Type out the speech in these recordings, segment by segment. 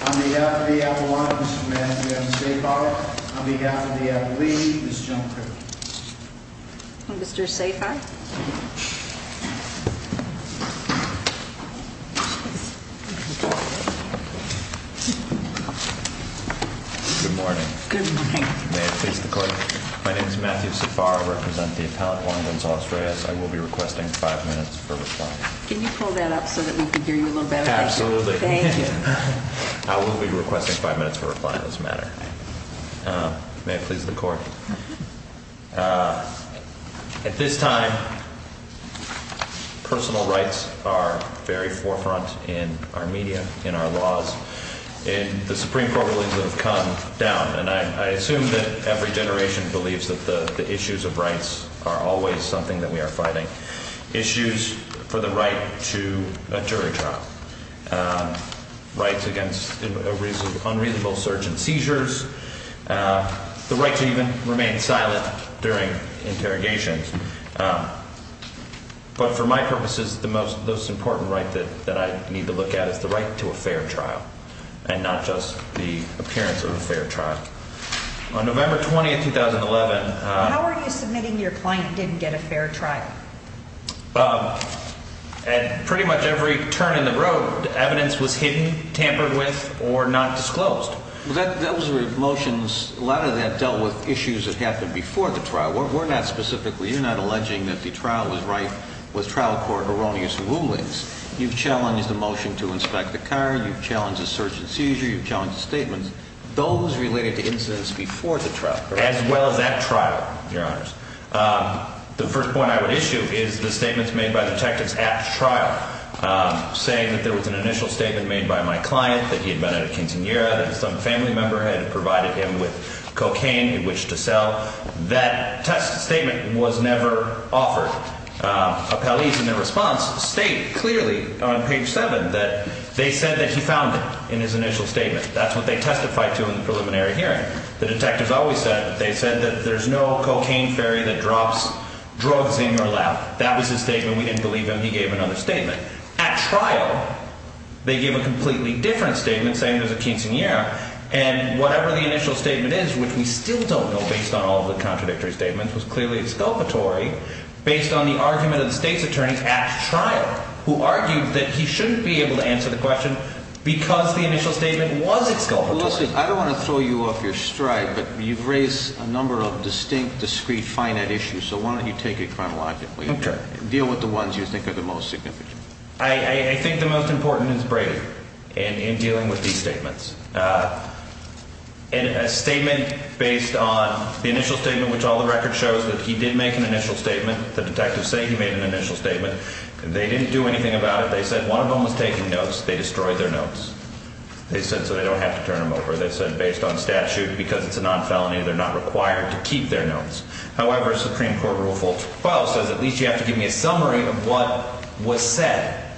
On behalf of the Avalon, Mr. Matthew M. Seifard, on behalf of the Avaline, Ms. Joan Prickett. Mr. Seifard. Good morning. Good morning. May it please the court. My name is Matthew Seifard, I represent the Avalon, Ms. Gonzalez-Reyes. I will be requesting five minutes for reply. Can you pull that up so that we can hear you a little better? Absolutely. Thank you. I will be requesting five minutes for reply in this matter. May it please the court. At this time, personal rights are very forefront in our media, in our laws. And the Supreme Court rulings have come down. And I assume that every generation believes that the issues of rights are always something that we are fighting. Issues for the right to a jury trial. Rights against unreasonable search and seizures. The right to even remain silent during interrogations. But for my purposes, the most important right that I need to look at is the right to a fair trial. And not just the appearance of a fair trial. On November 20, 2011. How are you submitting your client didn't get a fair trial? At pretty much every turn in the road, evidence was hidden, tampered with, or not disclosed. Those were motions, a lot of that dealt with issues that happened before the trial. We're not specifically, you're not alleging that the trial was rife with trial court erroneous rulings. You've challenged a motion to inspect the car. You've challenged a search and seizure. You've challenged a statement. Those related to incidents before the trial, correct? As well as that trial, your honors. The first point I would issue is the statements made by detectives at trial. Saying that there was an initial statement made by my client that he had been at a quinceanera. That some family member had provided him with cocaine he wished to sell. That test statement was never offered. Appellees in their response state clearly on page seven that they said that he found it in his initial statement. That's what they testified to in the preliminary hearing. The detectives always said that they said that there's no cocaine ferry that drops drugs in your lap. That was his statement. We didn't believe him. He gave another statement. At trial, they gave a completely different statement saying there's a quinceanera. And whatever the initial statement is, which we still don't know based on all of the contradictory statements, was clearly exculpatory based on the argument of the state's attorney at trial. Who argued that he shouldn't be able to answer the question because the initial statement was exculpatory. I don't want to throw you off your stride, but you've raised a number of distinct, discrete, finite issues. So why don't you take it chronologically. Okay. And deal with the ones you think are the most significant. I think the most important is Brady in dealing with these statements. In a statement based on the initial statement, which all the records show is that he did make an initial statement. The detectives say he made an initial statement. They didn't do anything about it. They said one of them was taking notes. They destroyed their notes. They said so they don't have to turn them over. They said based on statute, because it's a non-felony, they're not required to keep their notes. However, Supreme Court Rule 412 says at least you have to give me a summary of what was said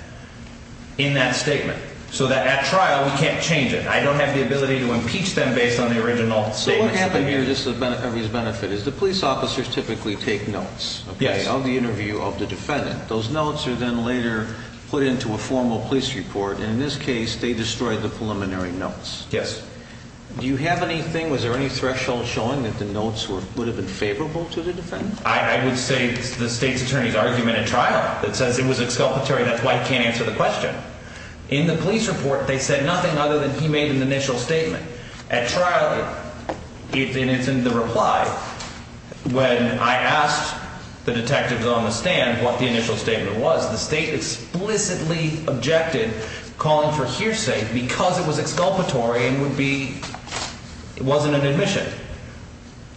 in that statement. So that at trial, we can't change it. I don't have the ability to impeach them based on the original statement. So what happened here, just to everybody's benefit, is the police officers typically take notes. Yes. Of the interview of the defendant. Those notes are then later put into a formal police report. And in this case, they destroyed the preliminary notes. Yes. Do you have anything? Was there any threshold showing that the notes would have been favorable to the defendant? I would say the state's attorney's argument at trial that says it was exculpatory, that's why he can't answer the question. In the police report, they said nothing other than he made an initial statement. At trial, and it's in the reply, when I asked the detectives on the stand what the initial statement was, the state explicitly objected calling for hearsay because it was exculpatory and it wasn't an admission.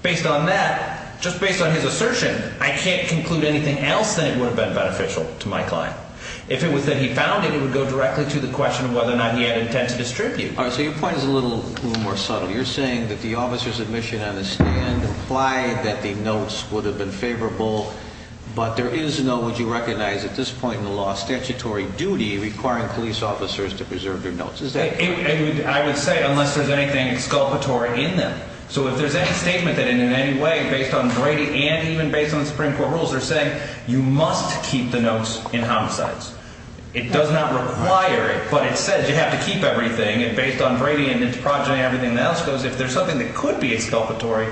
Based on that, just based on his assertion, I can't conclude anything else than it would have been beneficial to my client. If it was that he found it, it would go directly to the question of whether or not he had intent to distribute. All right, so your point is a little more subtle. You're saying that the officer's admission on the stand implied that the notes would have been favorable, but there is no, would you recognize at this point in the law, statutory duty requiring police officers to preserve their notes. Is that correct? I would say unless there's anything exculpatory in them. So if there's any statement that in any way, based on Brady and even based on the Supreme Court rules, they're saying you must keep the notes in homicides. It does not require it, but it says you have to keep everything. And based on Brady and his project and everything else goes, if there's something that could be exculpatory,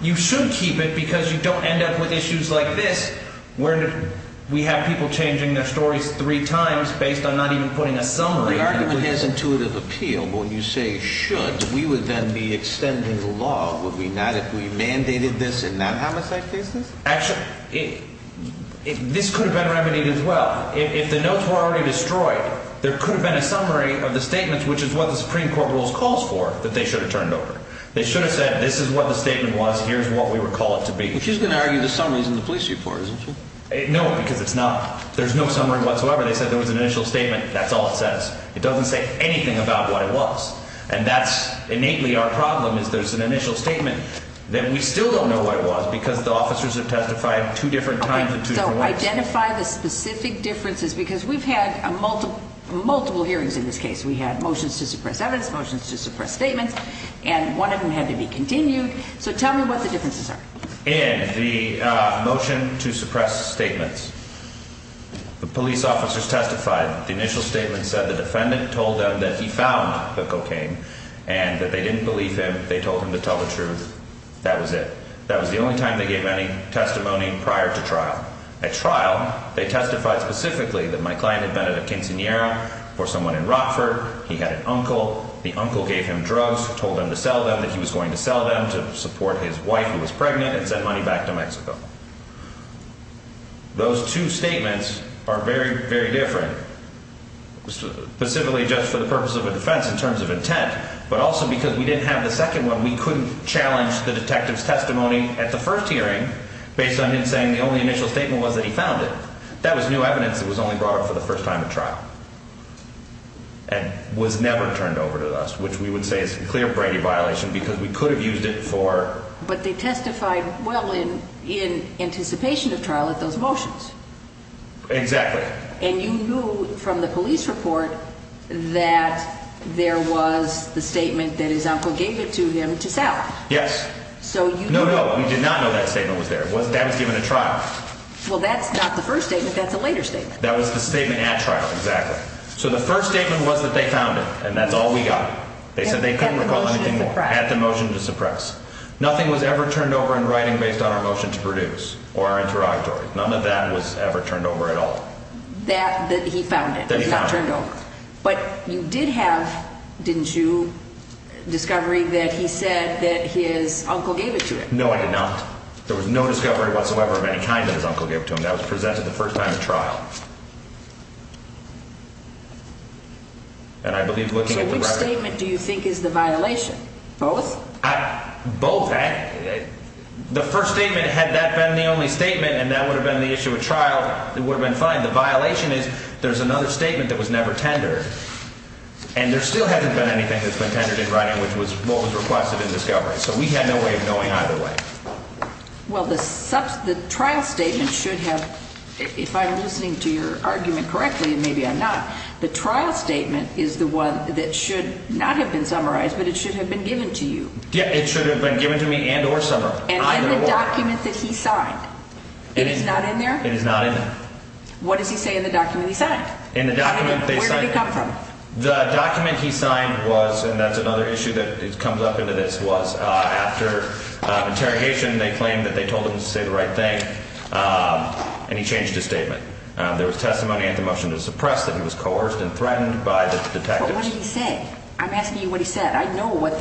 you should keep it because you don't end up with issues like this where we have people changing their stories three times based on not even putting a summary. In his intuitive appeal, when you say should, we would then be extending the law. Would we not if we mandated this in non-homicide cases? Actually, this could have been remedied as well. If the notes were already destroyed, there could have been a summary of the statements, which is what the Supreme Court rules calls for, that they should have turned over. They should have said this is what the statement was, here's what we would call it to be. But she's going to argue the summary is in the police report, isn't she? No, because it's not. There's no summary whatsoever. They said there was an initial statement. That's all it says. It doesn't say anything about what it was. And that's innately our problem is there's an initial statement that we still don't know what it was because the officers have testified two different times in two different ways. So identify the specific differences because we've had multiple hearings in this case. We had motions to suppress evidence, motions to suppress statements, and one of them had to be continued. So tell me what the differences are. In the motion to suppress statements, the police officers testified. The initial statement said the defendant told them that he found the cocaine and that they didn't believe him. They told him to tell the truth. That was it. That was the only time they gave any testimony prior to trial. At trial, they testified specifically that my client invented a quinceañera for someone in Rockford. He had an uncle. The uncle gave him drugs, told him to sell them, that he was going to sell them to support his wife who was pregnant and send money back to Mexico. Those two statements are very, very different, specifically just for the purpose of a defense in terms of intent, but also because we didn't have the second one. We couldn't challenge the detective's testimony at the first hearing based on him saying the only initial statement was that he found it. That was new evidence that was only brought up for the first time at trial and was never turned over to us, which we would say is a clear Brady violation because we could have used it for... But they testified well in anticipation of trial at those motions. Exactly. And you knew from the police report that there was the statement that his uncle gave it to him to sell. Yes. No, no, we did not know that statement was there. That was given at trial. Well, that's not the first statement. That's a later statement. That was the statement at trial, exactly. So the first statement was that they found it, and that's all we got. They said they couldn't recall anything more. At the motion to suppress. At the motion to suppress. Nothing was ever turned over in writing based on our motion to produce or our interrogatory. None of that was ever turned over at all. That he found it. That he found it. It was not turned over. But you did have, didn't you, discovery that he said that his uncle gave it to him. No, I did not. There was no discovery whatsoever of any kind that his uncle gave it to him. That was presented the first time at trial. And I believe looking at the record. So which statement do you think is the violation? Both? Both. The first statement, had that been the only statement, and that would have been the issue at trial, it would have been fine. The violation is there's another statement that was never tendered. And there still hasn't been anything that's been tendered in writing which was what was requested in discovery. So we had no way of knowing either way. Well, the trial statement should have, if I'm listening to your argument correctly, and maybe I'm not, the trial statement is the one that should not have been summarized, but it should have been given to you. Yeah, it should have been given to me and or summarized. And in the document that he signed. It is not in there? It is not in there. What does he say in the document he signed? In the document they signed. Where did it come from? The document he signed was, and that's another issue that comes up into this, was after interrogation, they claimed that they told him to say the right thing, and he changed his statement. There was testimony at the motion to suppress that he was coerced and threatened by the detectives. But what did he say? I'm asking you what he said. I know what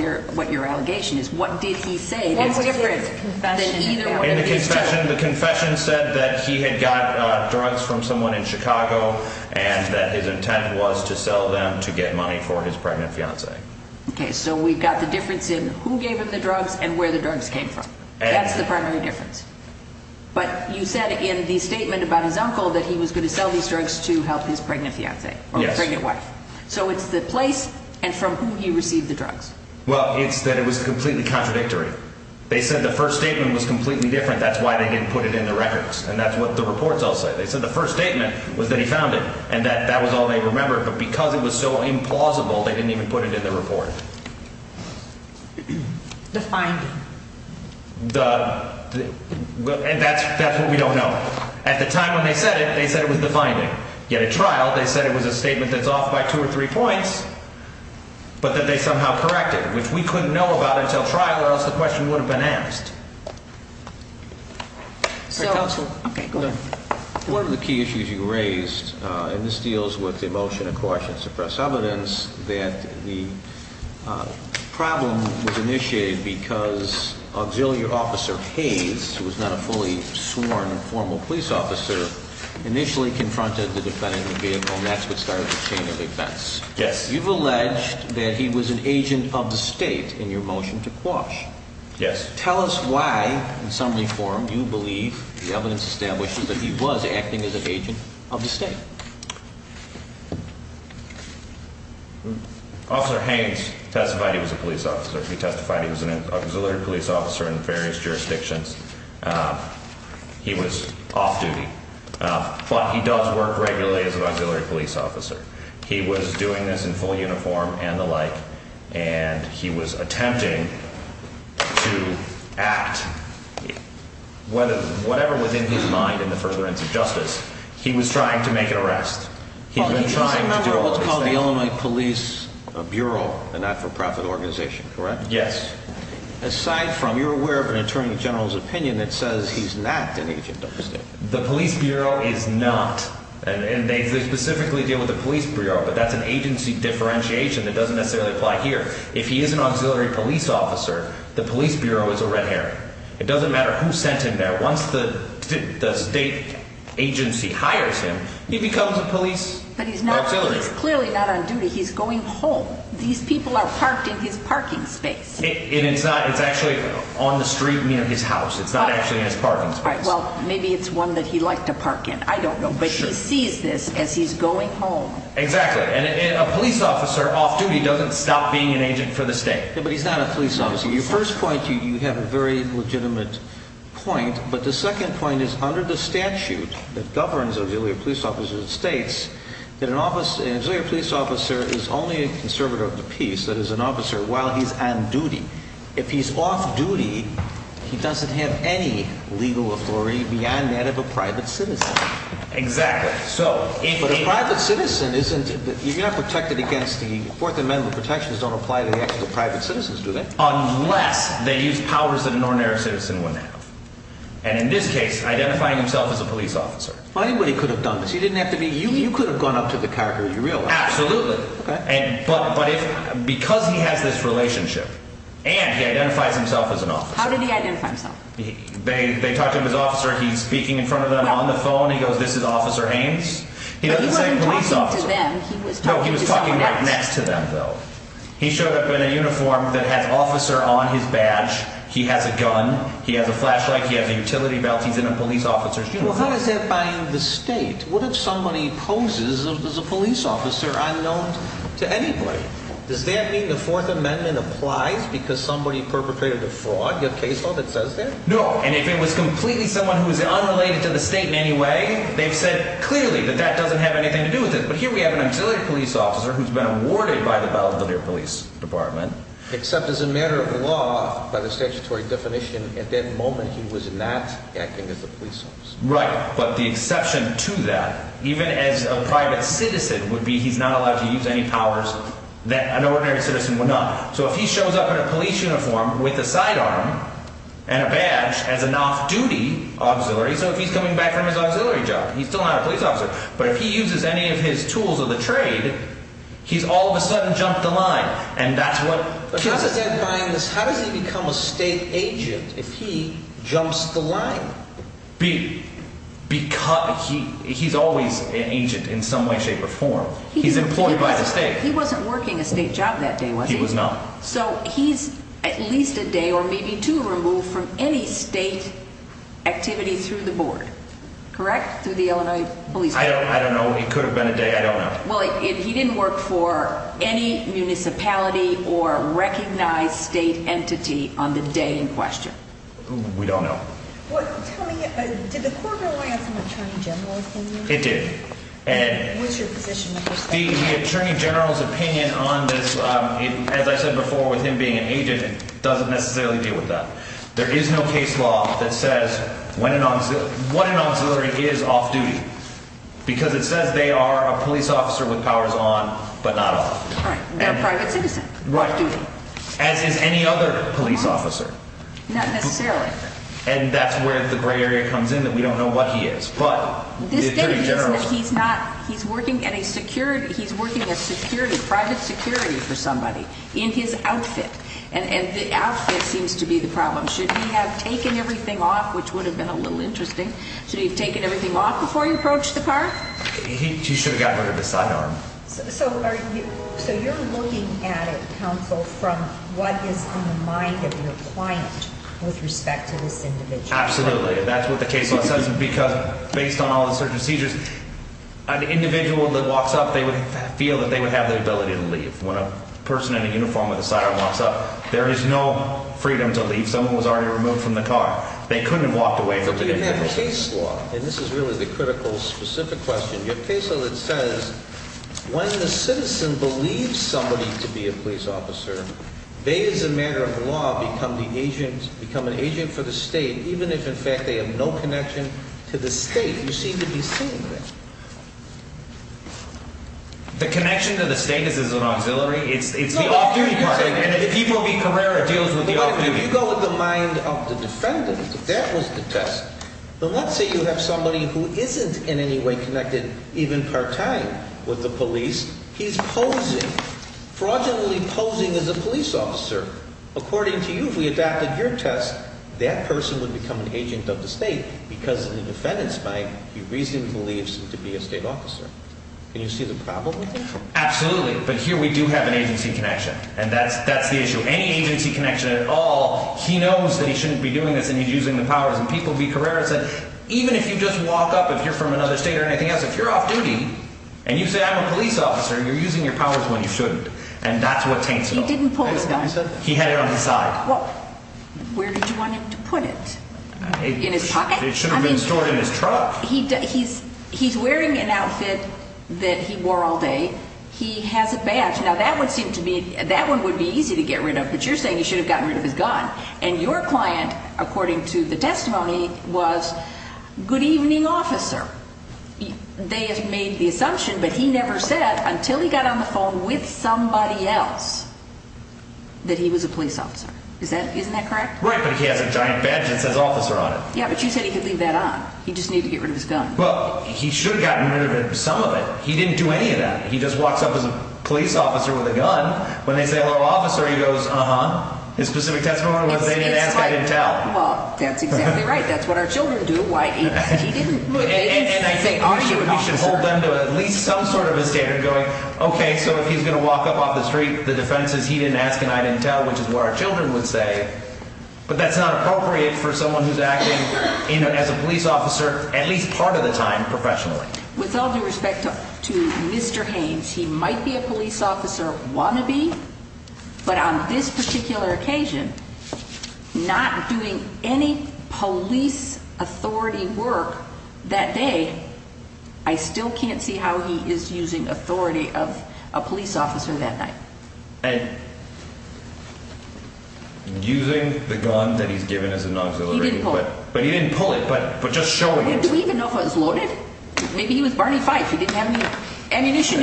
your allegation is. What did he say that's different than either one of these two? The confession said that he had got drugs from someone in Chicago, and that his intent was to sell them to get money for his pregnant fiancée. Okay, so we've got the difference in who gave him the drugs and where the drugs came from. That's the primary difference. But you said in the statement about his uncle that he was going to sell these drugs to help his pregnant fiancée, or pregnant wife. So it's the place and from whom he received the drugs. Well, it's that it was completely contradictory. They said the first statement was completely different. That's why they didn't put it in the records, and that's what the reports all say. They said the first statement was that he found it, and that that was all they remembered. But because it was so implausible, they didn't even put it in the report. Defined. And that's what we don't know. At the time when they said it, they said it was defined. Yet at trial, they said it was a statement that's off by two or three points, but that they somehow corrected, which we couldn't know about until trial, or else the question would have been asked. Okay, go ahead. One of the key issues you raised, and this deals with the emotion of coercion to suppress evidence, that the problem was initiated because Auxiliary Officer Hayes, who was not a fully sworn formal police officer, initially confronted the defendant in the vehicle, and that's what started the chain of events. Yes. You've alleged that he was an agent of the state in your motion to quash. Yes. Tell us why, in some reform, you believe the evidence establishes that he was acting as an agent of the state. Officer Hayes testified he was a police officer. He testified he was an auxiliary police officer in various jurisdictions. He was off duty. But he does work regularly as an auxiliary police officer. He was doing this in full uniform and the like, and he was attempting to act whatever was in his mind in the furtherance of justice. He was trying to make an arrest. He's been trying to do all of this. He's a member of what's called the Illinois Police Bureau, a not-for-profit organization, correct? Yes. Aside from, you're aware of an attorney general's opinion that says he's not an agent of the state. The Police Bureau is not. And they specifically deal with the Police Bureau, but that's an agency differentiation that doesn't necessarily apply here. If he is an auxiliary police officer, the Police Bureau is a red herring. It doesn't matter who sent him there. Once the state agency hires him, he becomes a police auxiliary. But he's clearly not on duty. He's going home. These people are parked in his parking space. And it's actually on the street near his house. It's not actually in his parking space. All right, well, maybe it's one that he liked to park in. I don't know. But he sees this as he's going home. Exactly. And a police officer off duty doesn't stop being an agent for the state. Yeah, but he's not a police officer. Your first point, you have a very legitimate point. But the second point is, under the statute that governs auxiliary police officers, it states that an auxiliary police officer is only a conservator of the peace, that is, an officer while he's on duty. If he's off duty, he doesn't have any legal authority beyond that of a private citizen. Exactly. But a private citizen isn't – you're not protected against – the Fourth Amendment protections don't apply to the actual private citizens, do they? Unless they use powers that an ordinary citizen wouldn't have. And in this case, identifying himself as a police officer. Well, anybody could have done this. He didn't have to be – you could have gone up to the cargo, you realize. Absolutely. But if – because he has this relationship and he identifies himself as an officer. How did he identify himself? They talked to his officer. He's speaking in front of them on the phone. He goes, this is Officer Haynes. He doesn't say police officer. But he wasn't talking to them. He was talking to someone next. No, he was talking right next to them, though. He showed up in a uniform that has officer on his badge. He has a gun. He has a flashlight. He has a utility belt. He's in a police officer's uniform. Well, how does that bind the state? What if somebody poses as a police officer unknown to anybody? Does that mean the Fourth Amendment applies because somebody perpetrated the fraud? You have case law that says that? No. And if it was completely someone who was unrelated to the state in any way, they've said clearly that that doesn't have anything to do with it. But here we have an auxiliary police officer who's been awarded by the Ballot Delivery Police Department. Except as a matter of law, by the statutory definition, at that moment he was not acting as a police officer. Right. But the exception to that, even as a private citizen would be, he's not allowed to use any powers that an ordinary citizen would not. So if he shows up in a police uniform with a sidearm and a badge as an off-duty auxiliary, so if he's coming back from his auxiliary job, he's still not a police officer. But if he uses any of his tools of the trade, he's all of a sudden jumped the line. And that's what kills us. But how does that bind this? How does he become a state agent if he jumps the line? Because he's always an agent in some way, shape, or form. He's employed by the state. He wasn't working a state job that day, was he? He was not. So he's at least a day or maybe two removed from any state activity through the board, correct? Through the Illinois Police Department. I don't know. It could have been a day. I don't know. Well, he didn't work for any municipality or recognized state entity on the day in question. We don't know. Well, tell me, did the Court of Illinois have some attorney general opinion? It did. And what's your position with respect to that? The attorney general's opinion on this, as I said before, with him being an agent, doesn't necessarily deal with that. There is no case law that says when an auxiliary is off-duty because it says they are a police officer with powers on but not off. All right. They're a private citizen. Off-duty. Right. As is any other police officer. Not necessarily. And that's where the gray area comes in that we don't know what he is. But the attorney general's opinion. He's not. He's working at a security. He's working at security, private security for somebody in his outfit. And the outfit seems to be the problem. Should he have taken everything off, which would have been a little interesting? Should he have taken everything off before he approached the car? He should have gotten rid of his sidearm. So you're looking at it, counsel, from what is in the mind of your client with respect to this individual? Absolutely. That's what the case law says because based on all the search and seizures, an individual that walks up, they would feel that they would have the ability to leave. When a person in a uniform with a sidearm walks up, there is no freedom to leave. Someone was already removed from the car. They couldn't have walked away from the individual. Your case law, and this is really the critical, specific question. Your case law says when the citizen believes somebody to be a police officer, they as a matter of law become an agent for the state even if in fact they have no connection to the state. You seem to be saying that. The connection to the state is as an auxiliary? It's the off-duty part. If you go with the mind of the defendant, if that was the test, then let's say you have somebody who isn't in any way connected even part-time with the police. He's posing, fraudulently posing as a police officer. According to you, if we adopted your test, that person would become an agent of the state because the defendant's mind, he reasonably believes him to be a state officer. Can you see the problem with that? Absolutely. But here we do have an agency connection, and that's the issue. Any agency connection at all, he knows that he shouldn't be doing this and he's using the powers. And people, V. Carrera said, even if you just walk up if you're from another state or anything else, if you're off-duty and you say, I'm a police officer, you're using your powers when you shouldn't, and that's what taints it all. He didn't pull his gun. He had it on his side. Well, where did you want him to put it? In his pocket? It should have been stored in his truck. He's wearing an outfit that he wore all day. He has a badge. Now, that one would be easy to get rid of, but you're saying he should have gotten rid of his gun. And your client, according to the testimony, was good evening, officer. They have made the assumption, but he never said, until he got on the phone with somebody else, that he was a police officer. Isn't that correct? Right, but he has a giant badge that says officer on it. Yeah, but you said he could leave that on. He just needed to get rid of his gun. Well, he should have gotten rid of some of it. He didn't do any of that. He just walks up as a police officer with a gun. When they say, hello, officer, he goes, uh-huh. His specific testimony was they didn't ask and I didn't tell. Well, that's exactly right. That's what our children do. They didn't say, are you an officer? He should hold them to at least some sort of a standard going, okay, so if he's going to walk up off the street, the defense is he didn't ask and I didn't tell, which is what our children would say. But that's not appropriate for someone who's acting as a police officer at least part of the time professionally. With all due respect to Mr. Haynes, he might be a police officer wannabe, but on this particular occasion, not doing any police authority work that day, I still can't see how he is using authority of a police officer that night. And using the gun that he's given as an auxiliary. He didn't pull it. But he didn't pull it, but just showing it. Do we even know if it was loaded? Maybe he was Barney Fife. He didn't have any ammunition.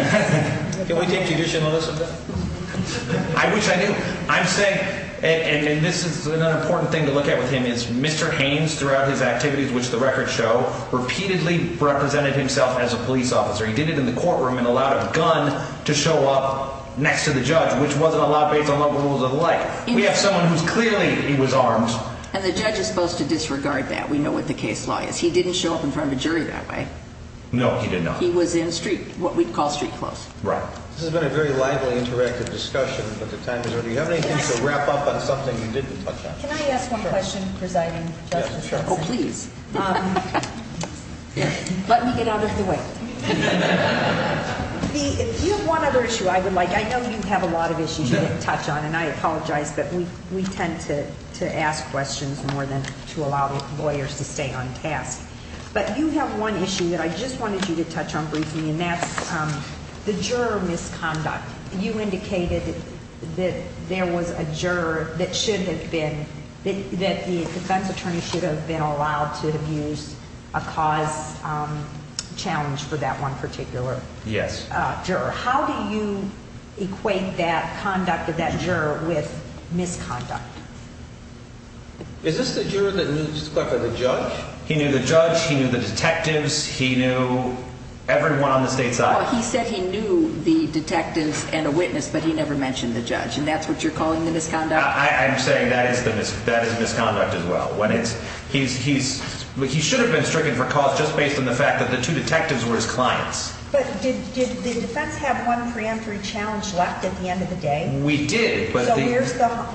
Can we take judicial notice of that? I wish I knew. I'm saying, and this is an important thing to look at with him, is Mr. Haynes throughout his activities, which the records show, repeatedly represented himself as a police officer. He did it in the courtroom and allowed a gun to show up next to the judge, which wasn't allowed based on local rules and the like. We have someone who's clearly, he was armed. And the judge is supposed to disregard that. We know what the case law is. He didn't show up in front of a jury that way. No, he did not. He was in street, what we'd call street clothes. Right. This has been a very lively, interactive discussion, but the time is over. Do you have anything to wrap up on something you didn't touch on? Can I ask one question, Presiding Justice? Yes, sure. Oh, please. Let me get out of the way. If you have one other issue I would like, I know you have a lot of issues you didn't touch on, and I apologize, but we tend to ask questions more than to allow lawyers to stay on task. But you have one issue that I just wanted you to touch on briefly, and that's the juror misconduct. You indicated that there was a juror that should have been, that the defense attorney should have been allowed to have used a cause challenge for that one particular juror. Yes. How do you equate that conduct of that juror with misconduct? Is this the juror that knew the judge? He knew the judge. He knew the detectives. He knew everyone on the state side. He said he knew the detectives and a witness, but he never mentioned the judge, and that's what you're calling the misconduct? I'm saying that is misconduct as well. He should have been stricken for cause just based on the fact that the two detectives were his clients. But did the defense have one preemptory challenge left at the end of the day? We did. So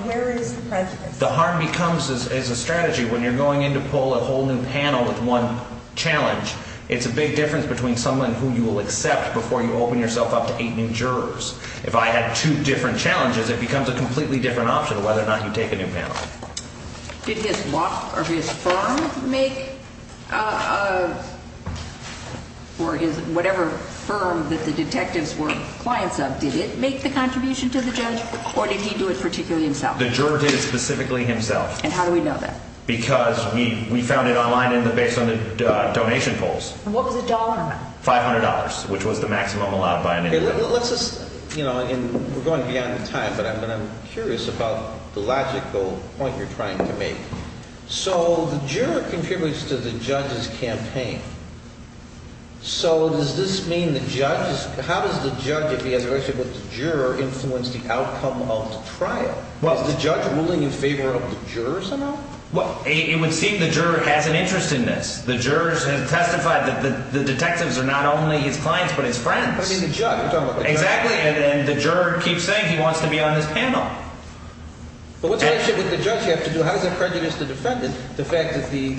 where is the prejudice? The harm becomes, as a strategy, when you're going in to pull a whole new panel with one challenge, it's a big difference between someone who you will accept before you open yourself up to eight new jurors. If I had two different challenges, it becomes a completely different option whether or not you take a new panel. Did his firm make, or whatever firm that the detectives were clients of, did it make the contribution to the judge, or did he do it particularly himself? The juror did it specifically himself. And how do we know that? Because we found it online based on the donation polls. And what was the dollar amount? $500, which was the maximum allowed by an individual. We're going beyond the time, but I'm curious about the logical point you're trying to make. So the juror contributes to the judge's campaign. So does this mean the judge, how does the judge, if he has a relationship with the juror, influence the outcome of the trial? Is the judge ruling in favor of the jurors now? It would seem the juror has an interest in this. The jurors have testified that the detectives are not only his clients, but his friends. You're talking about the judge. Exactly. And the juror keeps saying he wants to be on this panel. But what's the relationship with the judge you have to do? How does that prejudice the defendant, the fact that the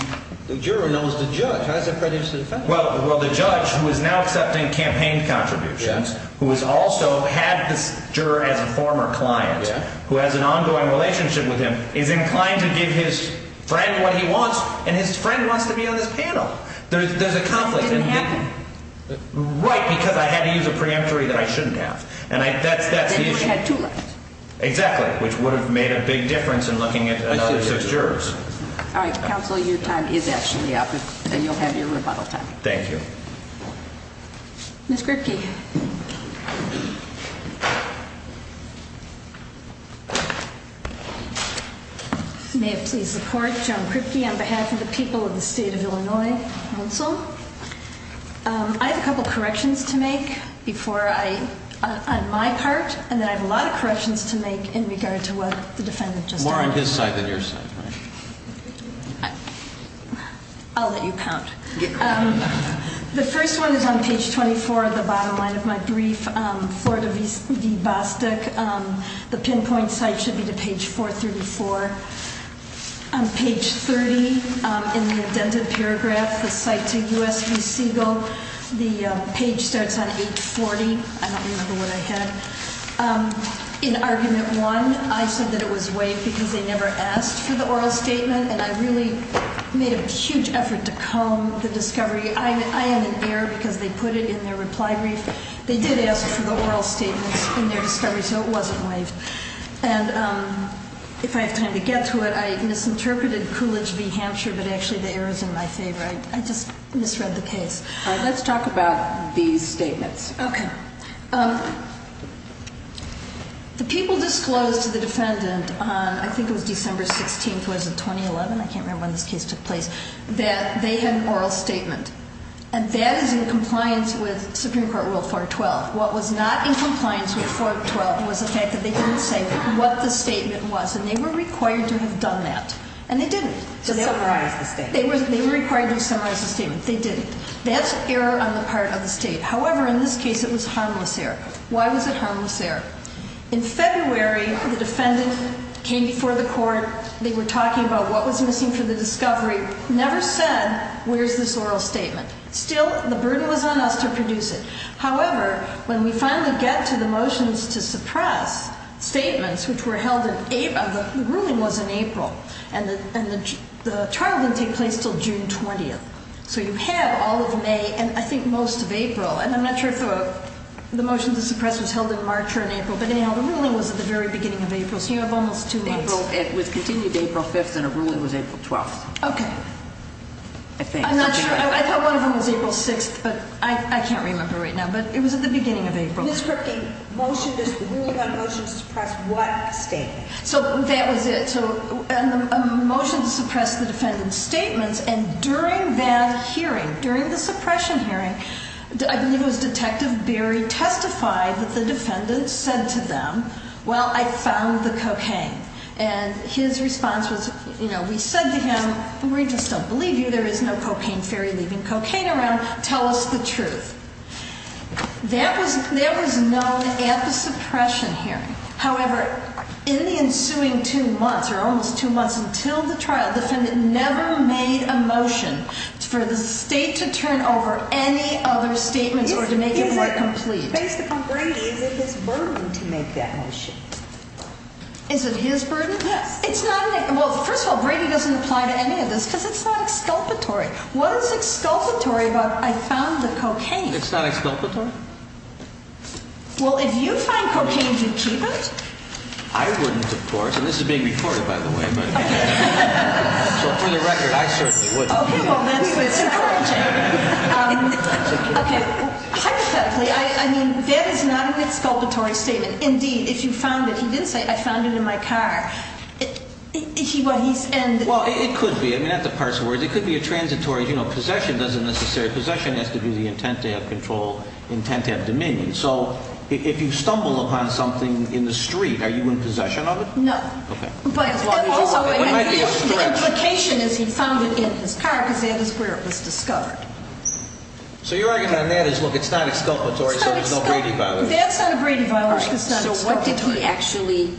juror knows the judge? How does that prejudice the defendant? Well, the judge, who is now accepting campaign contributions, who has also had this juror as a former client, who has an ongoing relationship with him, is inclined to give his friend what he wants, and his friend wants to be on this panel. There's a conflict. It didn't happen. Right, because I had to use a preemptory that I shouldn't have. And that's the issue. Then you would have had two left. Exactly, which would have made a big difference in looking at another six jurors. All right, counsel, your time is actually up, and you'll have your rebuttal time. Thank you. Ms. Kripke. May it please the Court. Joan Kripke on behalf of the people of the State of Illinois. Counsel, I have a couple of corrections to make before I, on my part, and then I have a lot of corrections to make in regard to what the defendant just said. More on his side than your side, right? I'll let you count. In the line of my brief, Florida v. Bostick, the pinpoint site should be to page 434. On page 30 in the indented paragraph, the site to U.S. v. Siegel, the page starts on 840. I don't remember what I had. In argument one, I said that it was waived because they never asked for the oral statement, and I really made a huge effort to comb the discovery. I am in error because they put it in their reply brief. They did ask for the oral statements in their discovery, so it wasn't waived. And if I have time to get to it, I misinterpreted Coolidge v. Hampshire, but actually the error is in my favor. I just misread the case. All right, let's talk about these statements. Okay. The people disclosed to the defendant on, I think it was December 16th, was it 2011? I can't remember when this case took place, that they had an oral statement. And that is in compliance with Supreme Court Rule 412. What was not in compliance with 412 was the fact that they didn't say what the statement was, and they were required to have done that. And they didn't. To summarize the statement. They were required to summarize the statement. They didn't. That's error on the part of the state. However, in this case, it was harmless error. Why was it harmless error? In February, the defendant came before the court. They were talking about what was missing from the discovery. Never said, where's this oral statement? Still, the burden was on us to produce it. However, when we finally get to the motions to suppress statements, which were held in April, the ruling was in April. And the trial didn't take place until June 20th. So you have all of May, and I think most of April. And I'm not sure if the motions to suppress was held in March or in April. But anyhow, the ruling was at the very beginning of April. So you have almost two April. It was continued April 5th, and a ruling was April 12th. Okay. I'm not sure. I thought one of them was April 6th, but I can't remember right now. But it was at the beginning of April. Ms. Kripke, motion to move on motions to suppress one statement. So that was it. A motion to suppress the defendant's statements. And during that hearing, during the suppression hearing, I believe it was Detective Berry testified that the defendant said to them, well, I found the cocaine. And his response was, you know, we said to him, we just don't believe you. There is no cocaine fairy leaving cocaine around. Tell us the truth. That was known at the suppression hearing. However, in the ensuing two months, or almost two months until the trial, the defendant never made a motion for the state to turn over any other statements or to make it more complete. Basically, Brady, is it his burden to make that motion? Is it his burden? Yes. Well, first of all, Brady doesn't apply to any of this because it's not exculpatory. What is exculpatory about I found the cocaine? It's not exculpatory? Well, if you find cocaine, do you keep it? I wouldn't, of course. And this is being recorded, by the way. So for the record, I certainly wouldn't. Okay. Well, that's encouraging. Okay. Hypothetically, I mean, that is not an exculpatory statement. Indeed, if you found it. He didn't say, I found it in my car. Well, it could be. I mean, that's a parse of words. It could be a transitory. You know, possession doesn't necessarily. Possession has to be the intent to have control, intent to have dominion. So if you stumble upon something in the street, are you in possession of it? No. Okay. But also, the implication is he found it in his car because that is where it was discovered. So your argument on that is, look, it's not exculpatory, so there's no Brady violation. That's not a Brady violation because it's not exculpatory. So what did he actually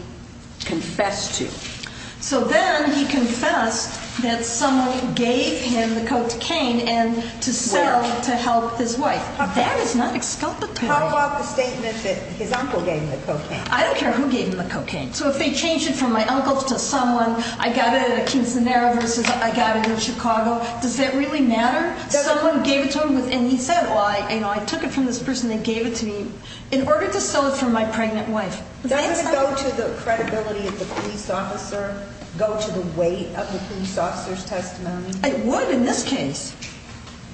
confess to? So then he confessed that someone gave him the cocaine to sell to help his wife. That is not exculpatory. How about the statement that his uncle gave him the cocaine? I don't care who gave him the cocaine. So if they change it from my uncle to someone, I got it at a quinceanera versus I got it in Chicago, does that really matter? Someone gave it to him, and he said, well, I took it from this person that gave it to me in order to sell it for my pregnant wife. Doesn't it go to the credibility of the police officer, go to the weight of the police officer's testimony? It would in this case.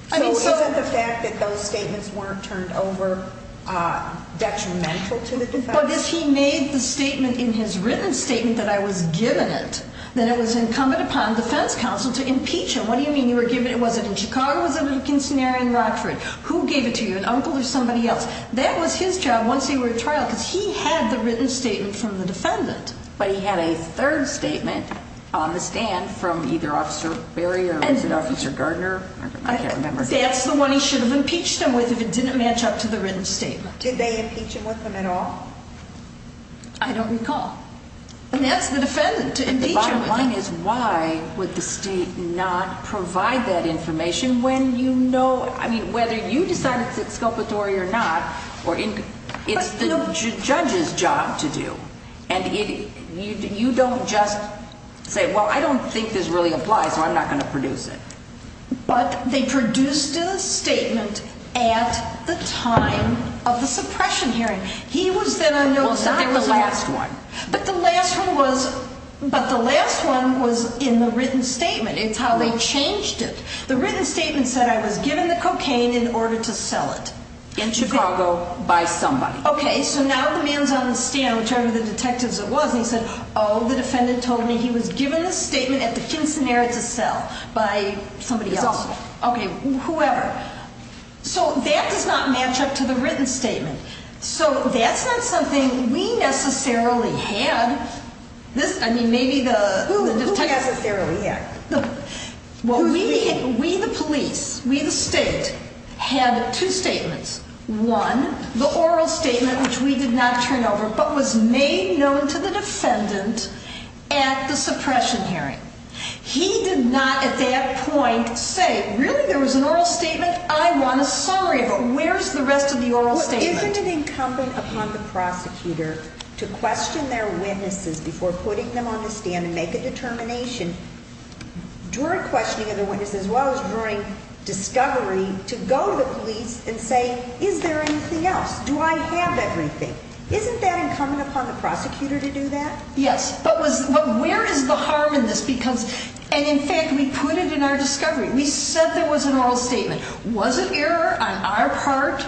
So isn't the fact that those statements weren't turned over detrimental to the defense? But if he made the statement in his written statement that I was given it, then it was incumbent upon defense counsel to impeach him. What do you mean you were given it? Was it in Chicago? Was it at a quinceanera in Rockford? Who gave it to you, an uncle or somebody else? That was his job once they were at trial because he had the written statement from the defendant. But he had a third statement on the stand from either Officer Berry or was it Officer Gardner? I can't remember. That's the one he should have impeached him with if it didn't match up to the written statement. Did they impeach him with them at all? I don't recall. And that's the defendant to impeach him with. The line is why would the state not provide that information when you know, I mean, whether you decided it's exculpatory or not, it's the judge's job to do. And you don't just say, well, I don't think this really applies, so I'm not going to produce it. But they produced a statement at the time of the suppression hearing. He was then a no-sign. Well, it's not the last one. But the last one was in the written statement. It's how they changed it. The written statement said I was given the cocaine in order to sell it. In Chicago by somebody. Okay, so now the man's on the stand, whichever of the detectives it was, and he said, oh, the defendant told me he was given the statement at the quinceanera to sell by somebody else. His uncle. Okay, whoever. So that does not match up to the written statement. So that's not something we necessarily had. I mean, maybe the detectives. Who necessarily had? We the police, we the state, had two statements. One, the oral statement, which we did not turn over, but was made known to the defendant at the suppression hearing. He did not at that point say, really, there was an oral statement? I want a summary of it. Where's the rest of the oral statement? Isn't it incumbent upon the prosecutor to question their witnesses before putting them on the stand and make a determination during questioning of the witness as well as during discovery to go to the police and say, is there anything else? Do I have everything? Isn't that incumbent upon the prosecutor to do that? Yes. But where is the harm in this? And, in fact, we put it in our discovery. We said there was an oral statement. Was it error on our part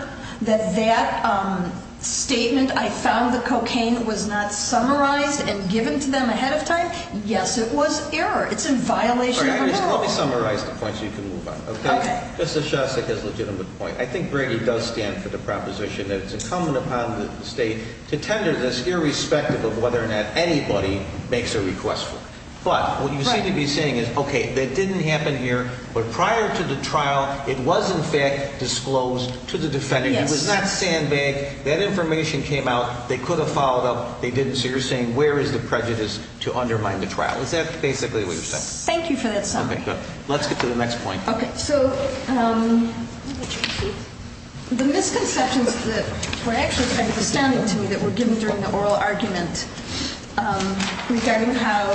that that statement, I found the cocaine, was not summarized and given to them ahead of time? Yes, it was error. It's in violation of the penal law. Let me summarize the points so you can move on, okay? Okay. This is Shostak's legitimate point. I think Brady does stand for the proposition that it's incumbent upon the state to tender this irrespective of whether or not anybody makes a request for it. But what you seem to be saying is, okay, that didn't happen here, but prior to the trial, it was, in fact, disclosed to the defendant. It was not sandbagged. That information came out. They could have followed up. They didn't. So you're saying where is the prejudice to undermine the trial? Is that basically what you're saying? Thank you for that summary. Let's get to the next point. Okay. So the misconceptions that were actually kind of astounding to me that were given during the oral argument regarding how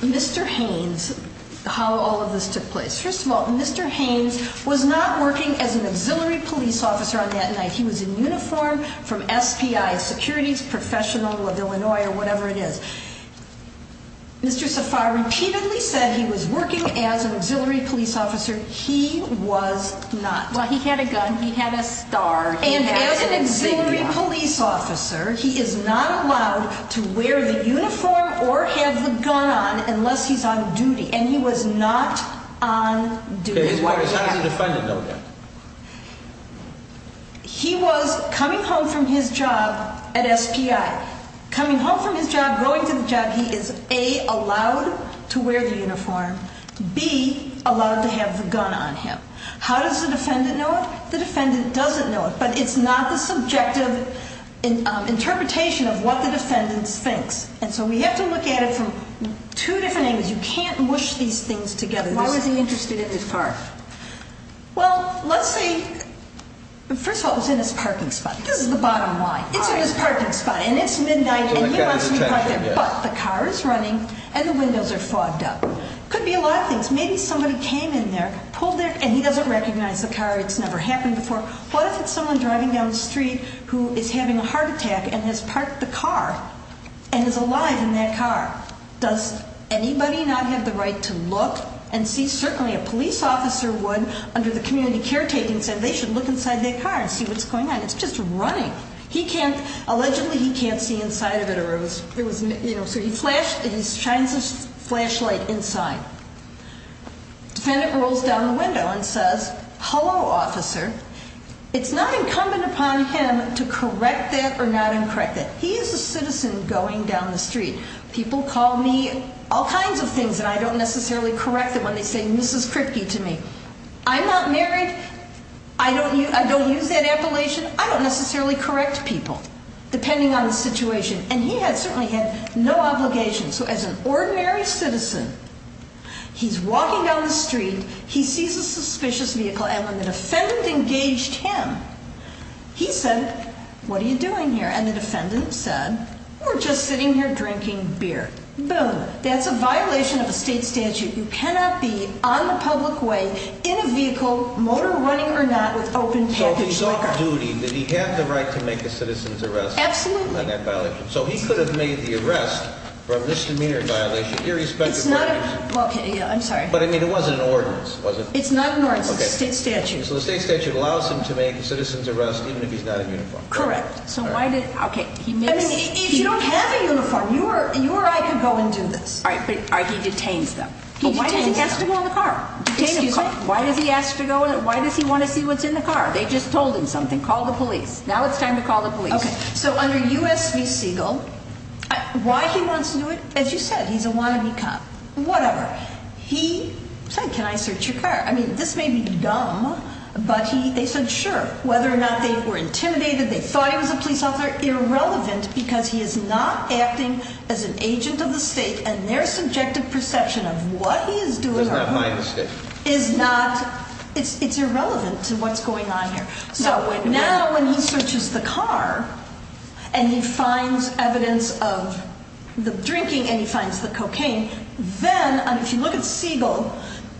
Mr. Haynes, how all of this took place. First of all, Mr. Haynes was not working as an auxiliary police officer on that night. He was in uniform from SPI, Securities Professional of Illinois or whatever it is. Mr. Safar repeatedly said he was working as an auxiliary police officer. He was not. Well, he had a gun. He had a star. And as an auxiliary police officer, he is not allowed to wear the uniform or have the gun on unless he's on duty. And he was not on duty. How does the defendant know that? He was coming home from his job at SPI. Coming home from his job, going to the job, he is, A, allowed to wear the uniform, B, allowed to have the gun on him. How does the defendant know it? The defendant doesn't know it. But it's not the subjective interpretation of what the defendant thinks. And so we have to look at it from two different angles. You can't mush these things together. Why was he interested in his car? Well, let's say, first of all, it was in his parking spot. This is the bottom line. It's in his parking spot, and it's midnight, and he wants to park there. But the car is running, and the windows are fogged up. Could be a lot of things. Maybe somebody came in there, pulled their car, and he doesn't recognize the car. It's never happened before. What if it's someone driving down the street who is having a heart attack and has parked the car and is alive in that car? Does anybody not have the right to look and see? Certainly a police officer would under the community caretaking said they should look inside their car and see what's going on. It's just running. Allegedly he can't see inside of it, so he shines a flashlight inside. Defendant rolls down the window and says, hello, officer. It's not incumbent upon him to correct that or not incorrect that. He is a citizen going down the street. People call me all kinds of things, and I don't necessarily correct them when they say Mrs. Kripke to me. I'm not married. I don't use that appellation. I don't necessarily correct people depending on the situation. And he certainly had no obligation. So as an ordinary citizen, he's walking down the street, he sees a suspicious vehicle, and when the defendant engaged him, he said, what are you doing here? And the defendant said, we're just sitting here drinking beer. Boom. That's a violation of a state statute. You cannot be on the public way in a vehicle, motor running or not, with open package. Did he have the right to make a citizen's arrest? Absolutely. So he could have made the arrest for a misdemeanor violation, irrespective of the reason. I'm sorry. But I mean, it wasn't an ordinance, was it? It's not an ordinance. It's a state statute. So the state statute allows him to make a citizen's arrest even if he's not in uniform. Correct. If you don't have a uniform, you or I could go and do this. All right, but he detains them. He detains them. But why does he ask to go in the car? Excuse me? Why does he ask to go in the car? They just told him something. Call the police. Now it's time to call the police. Okay. So under U.S. v. Siegel, why he wants to do it, as you said, he's a wannabe cop. Whatever. He said, can I search your car? I mean, this may be dumb, but they said, sure. Whether or not they were intimidated, they thought he was a police officer, irrelevant, because he is not acting as an agent of the state, and their subjective perception of what he is doing. It's not my mistake. It's irrelevant to what's going on here. So now when he searches the car and he finds evidence of the drinking and he finds the cocaine, then if you look at Siegel,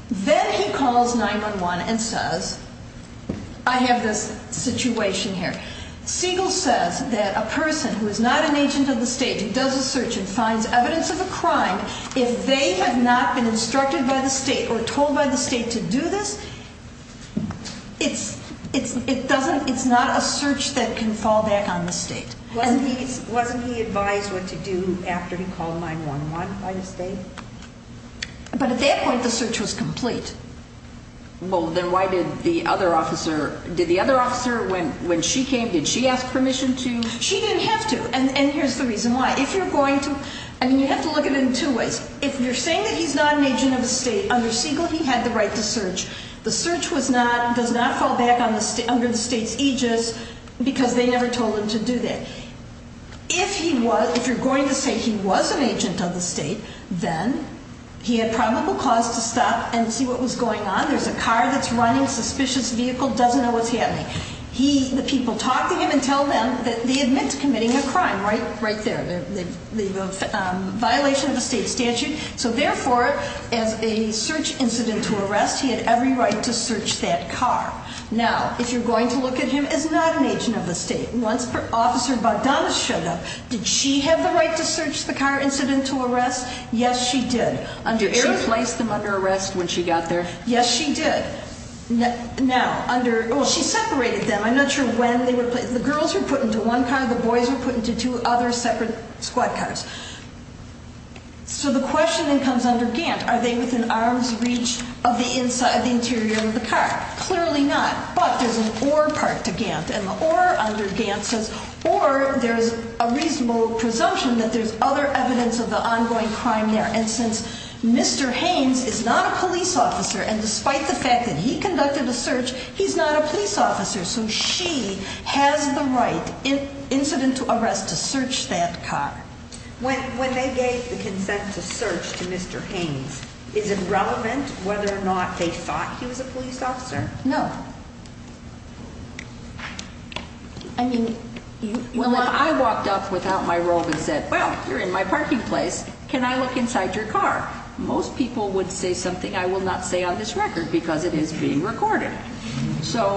then he calls 911 and says, I have this situation here. Siegel says that a person who is not an agent of the state who does a search and finds evidence of a crime, if they have not been instructed by the state or told by the state to do this, it's not a search that can fall back on the state. Wasn't he advised what to do after he called 911 by the state? But at that point, the search was complete. Well, then why did the other officer, when she came, did she ask permission to? She didn't have to, and here's the reason why. I mean, you have to look at it in two ways. If you're saying that he's not an agent of the state, under Siegel he had the right to search. The search does not fall back under the state's aegis because they never told him to do that. If you're going to say he was an agent of the state, then he had probable cause to stop and see what was going on. There's a car that's running, suspicious vehicle, doesn't know what's happening. The people talk to him and tell them that they admit to committing a crime right there. They have a violation of the state statute. So therefore, as a search incident to arrest, he had every right to search that car. Now, if you're going to look at him as not an agent of the state, once Officer Bogdanov showed up, did she have the right to search the car incident to arrest? Yes, she did. Did she place them under arrest when she got there? Yes, she did. She separated them. I'm not sure when they were placed. The girls were put into one car. The boys were put into two other separate squad cars. So the question then comes under Gantt. Are they within arm's reach of the interior of the car? Clearly not. But there's an or part to Gantt. And the or under Gantt says, or there's a reasonable presumption that there's other evidence of the ongoing crime there. And since Mr. Haynes is not a police officer, and despite the fact that he conducted a search, he's not a police officer. So she has the right, incident to arrest, to search that car. When they gave the consent to search to Mr. Haynes, is it relevant whether or not they thought he was a police officer? No. Well, if I walked up without my robe and said, well, you're in my parking place, can I look inside your car? Most people would say something I will not say on this record because it is being recorded. So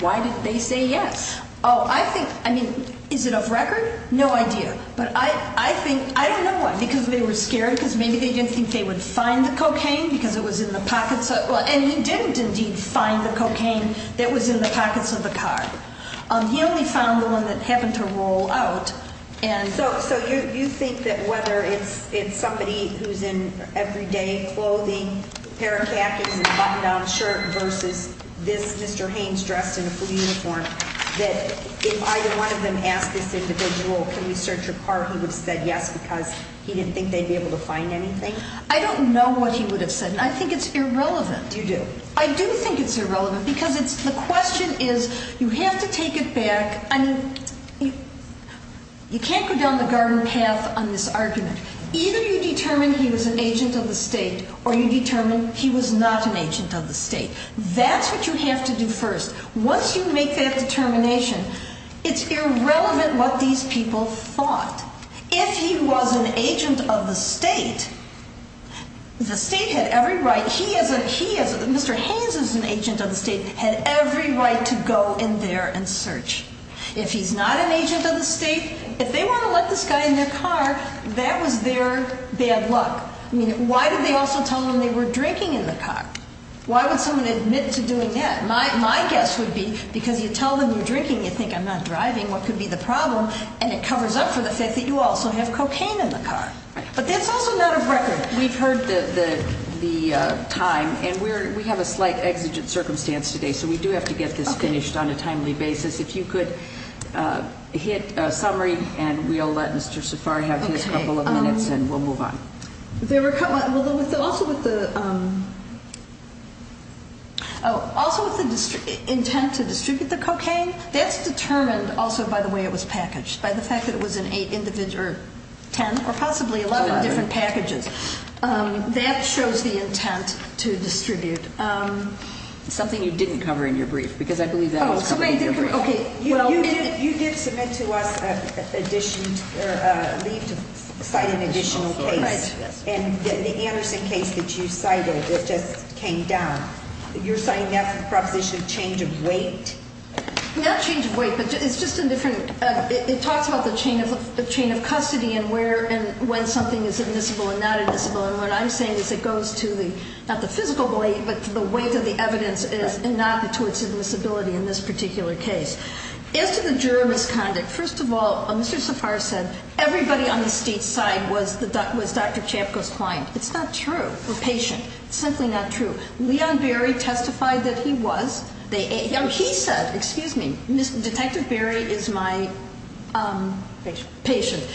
why did they say yes? Oh, I think, I mean, is it off record? No idea. But I think, I don't know why, because they were scared because maybe they didn't think they would find the cocaine because it was in the pockets. And he didn't indeed find the cocaine that was in the pockets of the car. He only found the one that happened to roll out. So you think that whether it's somebody who's in everyday clothing, a pair of khakis and a button-down shirt versus this Mr. Haynes dressed in a police uniform, that if either one of them asked this individual, can we search your car, he would have said yes because he didn't think they'd be able to find anything? I don't know what he would have said. I think it's irrelevant. You do? I do think it's irrelevant because the question is, you have to take it back. I mean, you can't go down the garden path on this argument. Either you determine he was an agent of the state or you determine he was not an agent of the state. That's what you have to do first. Once you make that determination, it's irrelevant what these people thought. If he was an agent of the state, the state had every right. He, as Mr. Haynes is an agent of the state, had every right to go in there and search. If he's not an agent of the state, if they want to let this guy in their car, that was their bad luck. I mean, why did they also tell him they were drinking in the car? Why would someone admit to doing that? My guess would be because you tell them you're drinking, you think, I'm not driving, what could be the problem? And it covers up for the fact that you also have cocaine in the car. But that's also not a record. We've heard the time, and we have a slight exigent circumstance today, so we do have to get this finished on a timely basis. If you could hit summary, and we'll let Mr. Safaree have his couple of minutes, and we'll move on. Also with the intent to distribute the cocaine, that's determined also by the way it was packaged, by the fact that it was in eight or ten or possibly 11 different packages. That shows the intent to distribute. Something you didn't cover in your brief, because I believe that was covered in your brief. You did submit to us a leave to cite an additional case. And the Anderson case that you cited, it just came down. You're citing that for the proposition of change of weight? Not change of weight, but it's just a different, it talks about the chain of custody and when something is admissible and not admissible. And what I'm saying is it goes to the, not the physical weight, but the weight of the evidence and not to its admissibility in this particular case. As to the juror misconduct, first of all, Mr. Safaree said everybody on the state's side was Dr. Chapko's client. It's not true. Or patient. It's simply not true. Leon Berry testified that he was. He said, excuse me, Detective Berry is my patient.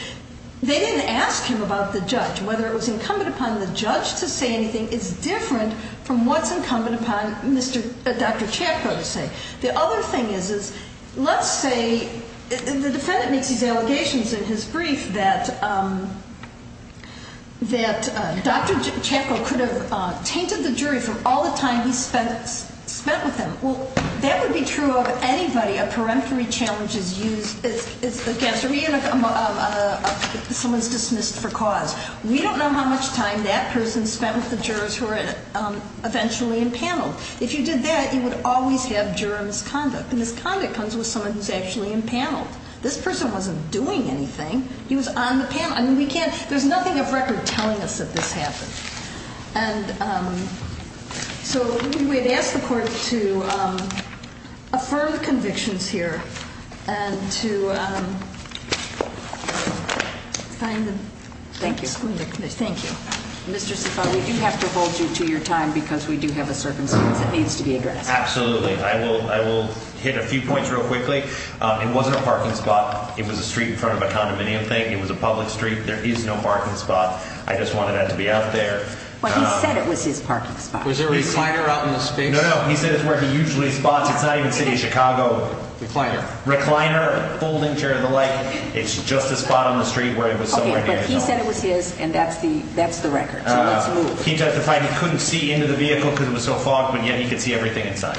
They didn't ask him about the judge. Whether it was incumbent upon the judge to say anything is different from what's incumbent upon Dr. Chapko to say. The other thing is, let's say the defendant makes these allegations in his brief that Dr. Chapko could have tainted the jury from all the time he spent with them. Well, that would be true of anybody. A peremptory challenge is used. It's a gasoline, someone's dismissed for cause. We don't know how much time that person spent with the jurors who were eventually impaneled. If you did that, you would always have juror misconduct. And misconduct comes with someone who's actually impaneled. This person wasn't doing anything. He was on the panel. I mean, we can't, there's nothing of record telling us that this happened. And so we would ask the court to affirm the convictions here and to find the. Thank you. Thank you. Mr. Safar, we do have to hold you to your time because we do have a circumstance that needs to be addressed. Absolutely. I will hit a few points real quickly. It wasn't a parking spot. It was a street in front of a condominium thing. It was a public street. There is no parking spot. I just wanted that to be out there. But he said it was his parking spot. Was there a recliner out in the space? No, no. He said it's where he usually spots. It's not even city of Chicago. Recliner. Recliner, folding chair, the like. It's just a spot on the street where it was somewhere near his home. Okay, but he said it was his and that's the record. So let's move. He testified he couldn't see into the vehicle because it was so fogged, but yet he could see everything inside.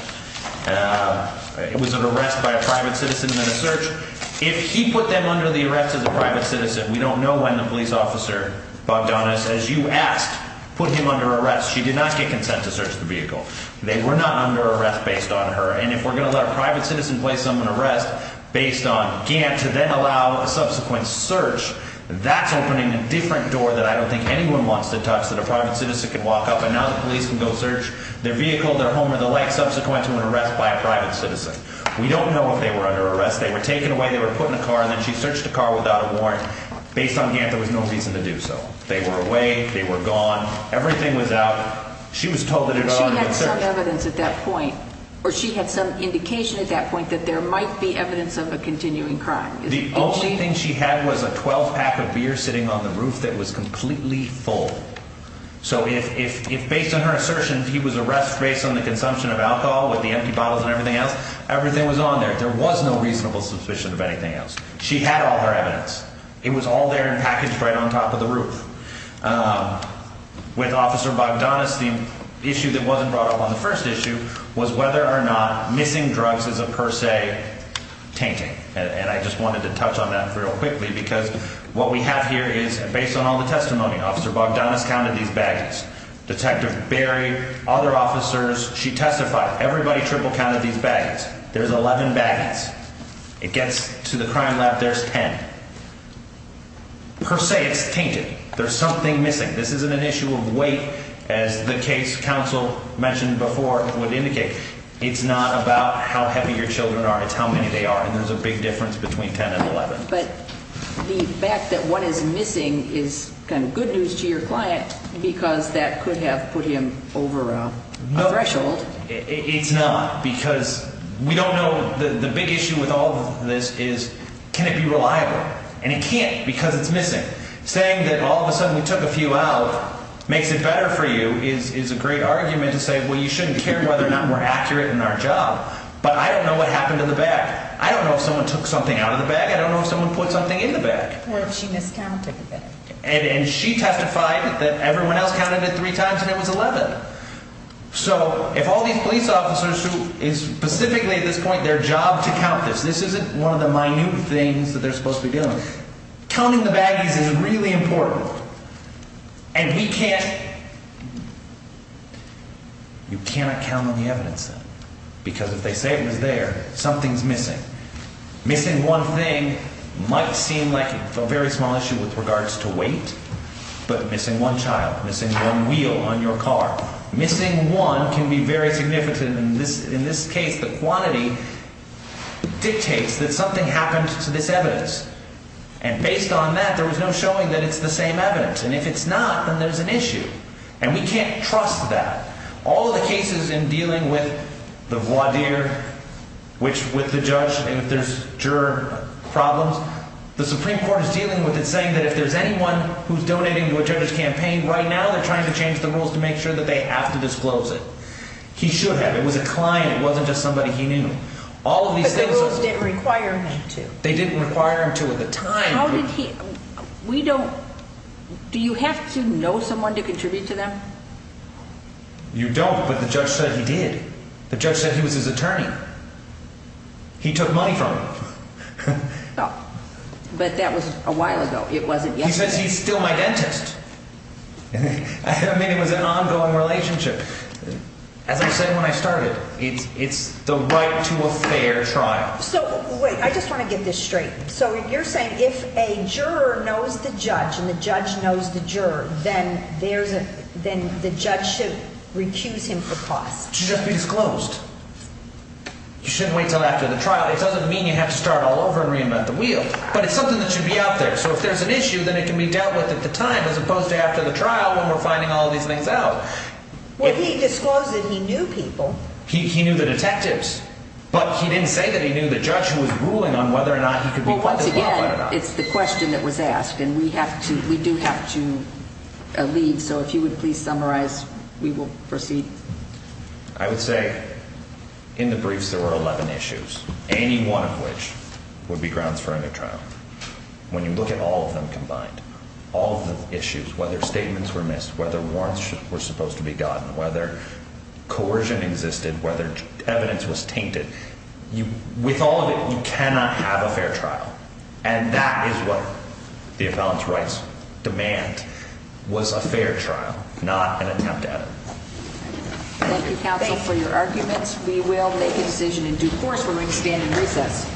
It was an arrest by a private citizen and then a search. If he put them under the arrest as a private citizen, we don't know when the police officer bugged on us. As you asked, put him under arrest. She did not get consent to search the vehicle. They were not under arrest based on her. And if we're going to let a private citizen place them under arrest based on Gant to then allow a subsequent search, that's opening a different door that I don't think anyone wants to touch that a private citizen can walk up. And now the police can go search their vehicle, their home or the like subsequent to an arrest by a private citizen. We don't know if they were under arrest. They were taken away. They were put in a car and then she searched the car without a warrant based on Gant. There was no reason to do so. They were away. They were gone. Everything was out. She was told that it was evidence at that point or she had some indication at that point that there might be evidence of a continuing crime. The only thing she had was a 12 pack of beer sitting on the roof that was completely full. So if based on her assertion, he was arrest based on the consumption of alcohol with the empty bottles and everything else. Everything was on there. There was no reasonable suspicion of anything else. She had all her evidence. It was all there and packaged right on top of the roof. With Officer Bogdanas, the issue that wasn't brought up on the first issue was whether or not missing drugs is a per se tainting. And I just wanted to touch on that real quickly because what we have here is based on all the testimony, Officer Bogdanas counted these baggage. Detective Barry, other officers, she testified. Everybody triple counted these baggage. There's 11 baggage. It gets to the crime lab, there's 10. Per se, it's tainted. There's something missing. This isn't an issue of weight as the case counsel mentioned before would indicate. It's not about how heavy your children are. It's how many they are. And there's a big difference between 10 and 11. But the fact that one is missing is kind of good news to your client because that could have put him over a threshold. It's not because we don't know the big issue with all of this is can it be reliable? And it can't because it's missing. Saying that all of a sudden we took a few out makes it better for you is a great argument to say, well, you shouldn't care whether or not we're accurate in our job. But I don't know what happened to the bag. I don't know if someone took something out of the bag. I don't know if someone put something in the bag. Or if she miscounted it. And she testified that everyone else counted it three times and it was 11. So if all these police officers who is specifically at this point their job to count this, this isn't one of the minute things that they're supposed to be doing. Counting the baggies is really important. And we can't, you cannot count on the evidence then. Because if they say it was there, something's missing. Missing one thing might seem like a very small issue with regards to weight. But missing one child, missing one wheel on your car. Missing one can be very significant. In this case, the quantity dictates that something happened to this evidence. And based on that, there was no showing that it's the same evidence. And if it's not, then there's an issue. And we can't trust that. All the cases in dealing with the voir dire, which with the judge and if there's juror problems, the Supreme Court is dealing with it saying that if there's anyone who's donating to a judge's campaign right now, they're trying to change the rules to make sure that they have to disclose it. He should have. It was a client. It wasn't just somebody he knew. But the rules didn't require him to. They didn't require him to at the time. How did he, we don't, do you have to know someone to contribute to them? You don't, but the judge said he did. The judge said he was his attorney. He took money from him. But that was a while ago. It wasn't yet. He says he's still my dentist. I mean, it was an ongoing relationship. As I said when I started, it's the right to a fair trial. So, wait, I just want to get this straight. So you're saying if a juror knows the judge and the judge knows the juror, then there's a, then the judge should recuse him for cost. It should just be disclosed. You shouldn't wait until after the trial. It doesn't mean you have to start all over and reinvent the wheel. But it's something that should be out there. So if there's an issue, then it can be dealt with at the time as opposed to after the trial when we're finding all these things out. Well, he disclosed that he knew people. He knew the detectives. But he didn't say that he knew the judge who was ruling on whether or not he could be involved or not. Well, once again, it's the question that was asked. And we have to, we do have to leave. So if you would please summarize, we will proceed. I would say in the briefs there were 11 issues, any one of which would be grounds for another trial. When you look at all of them combined, all of the issues, whether statements were missed, whether warrants were supposed to be gotten, whether coercion existed, whether evidence was tainted, you, with all of it, you cannot have a fair trial. And that is what the imbalance rights demand, was a fair trial, not an attempt at it. Thank you, counsel, for your arguments. We will make a decision in due course when we stand in recess.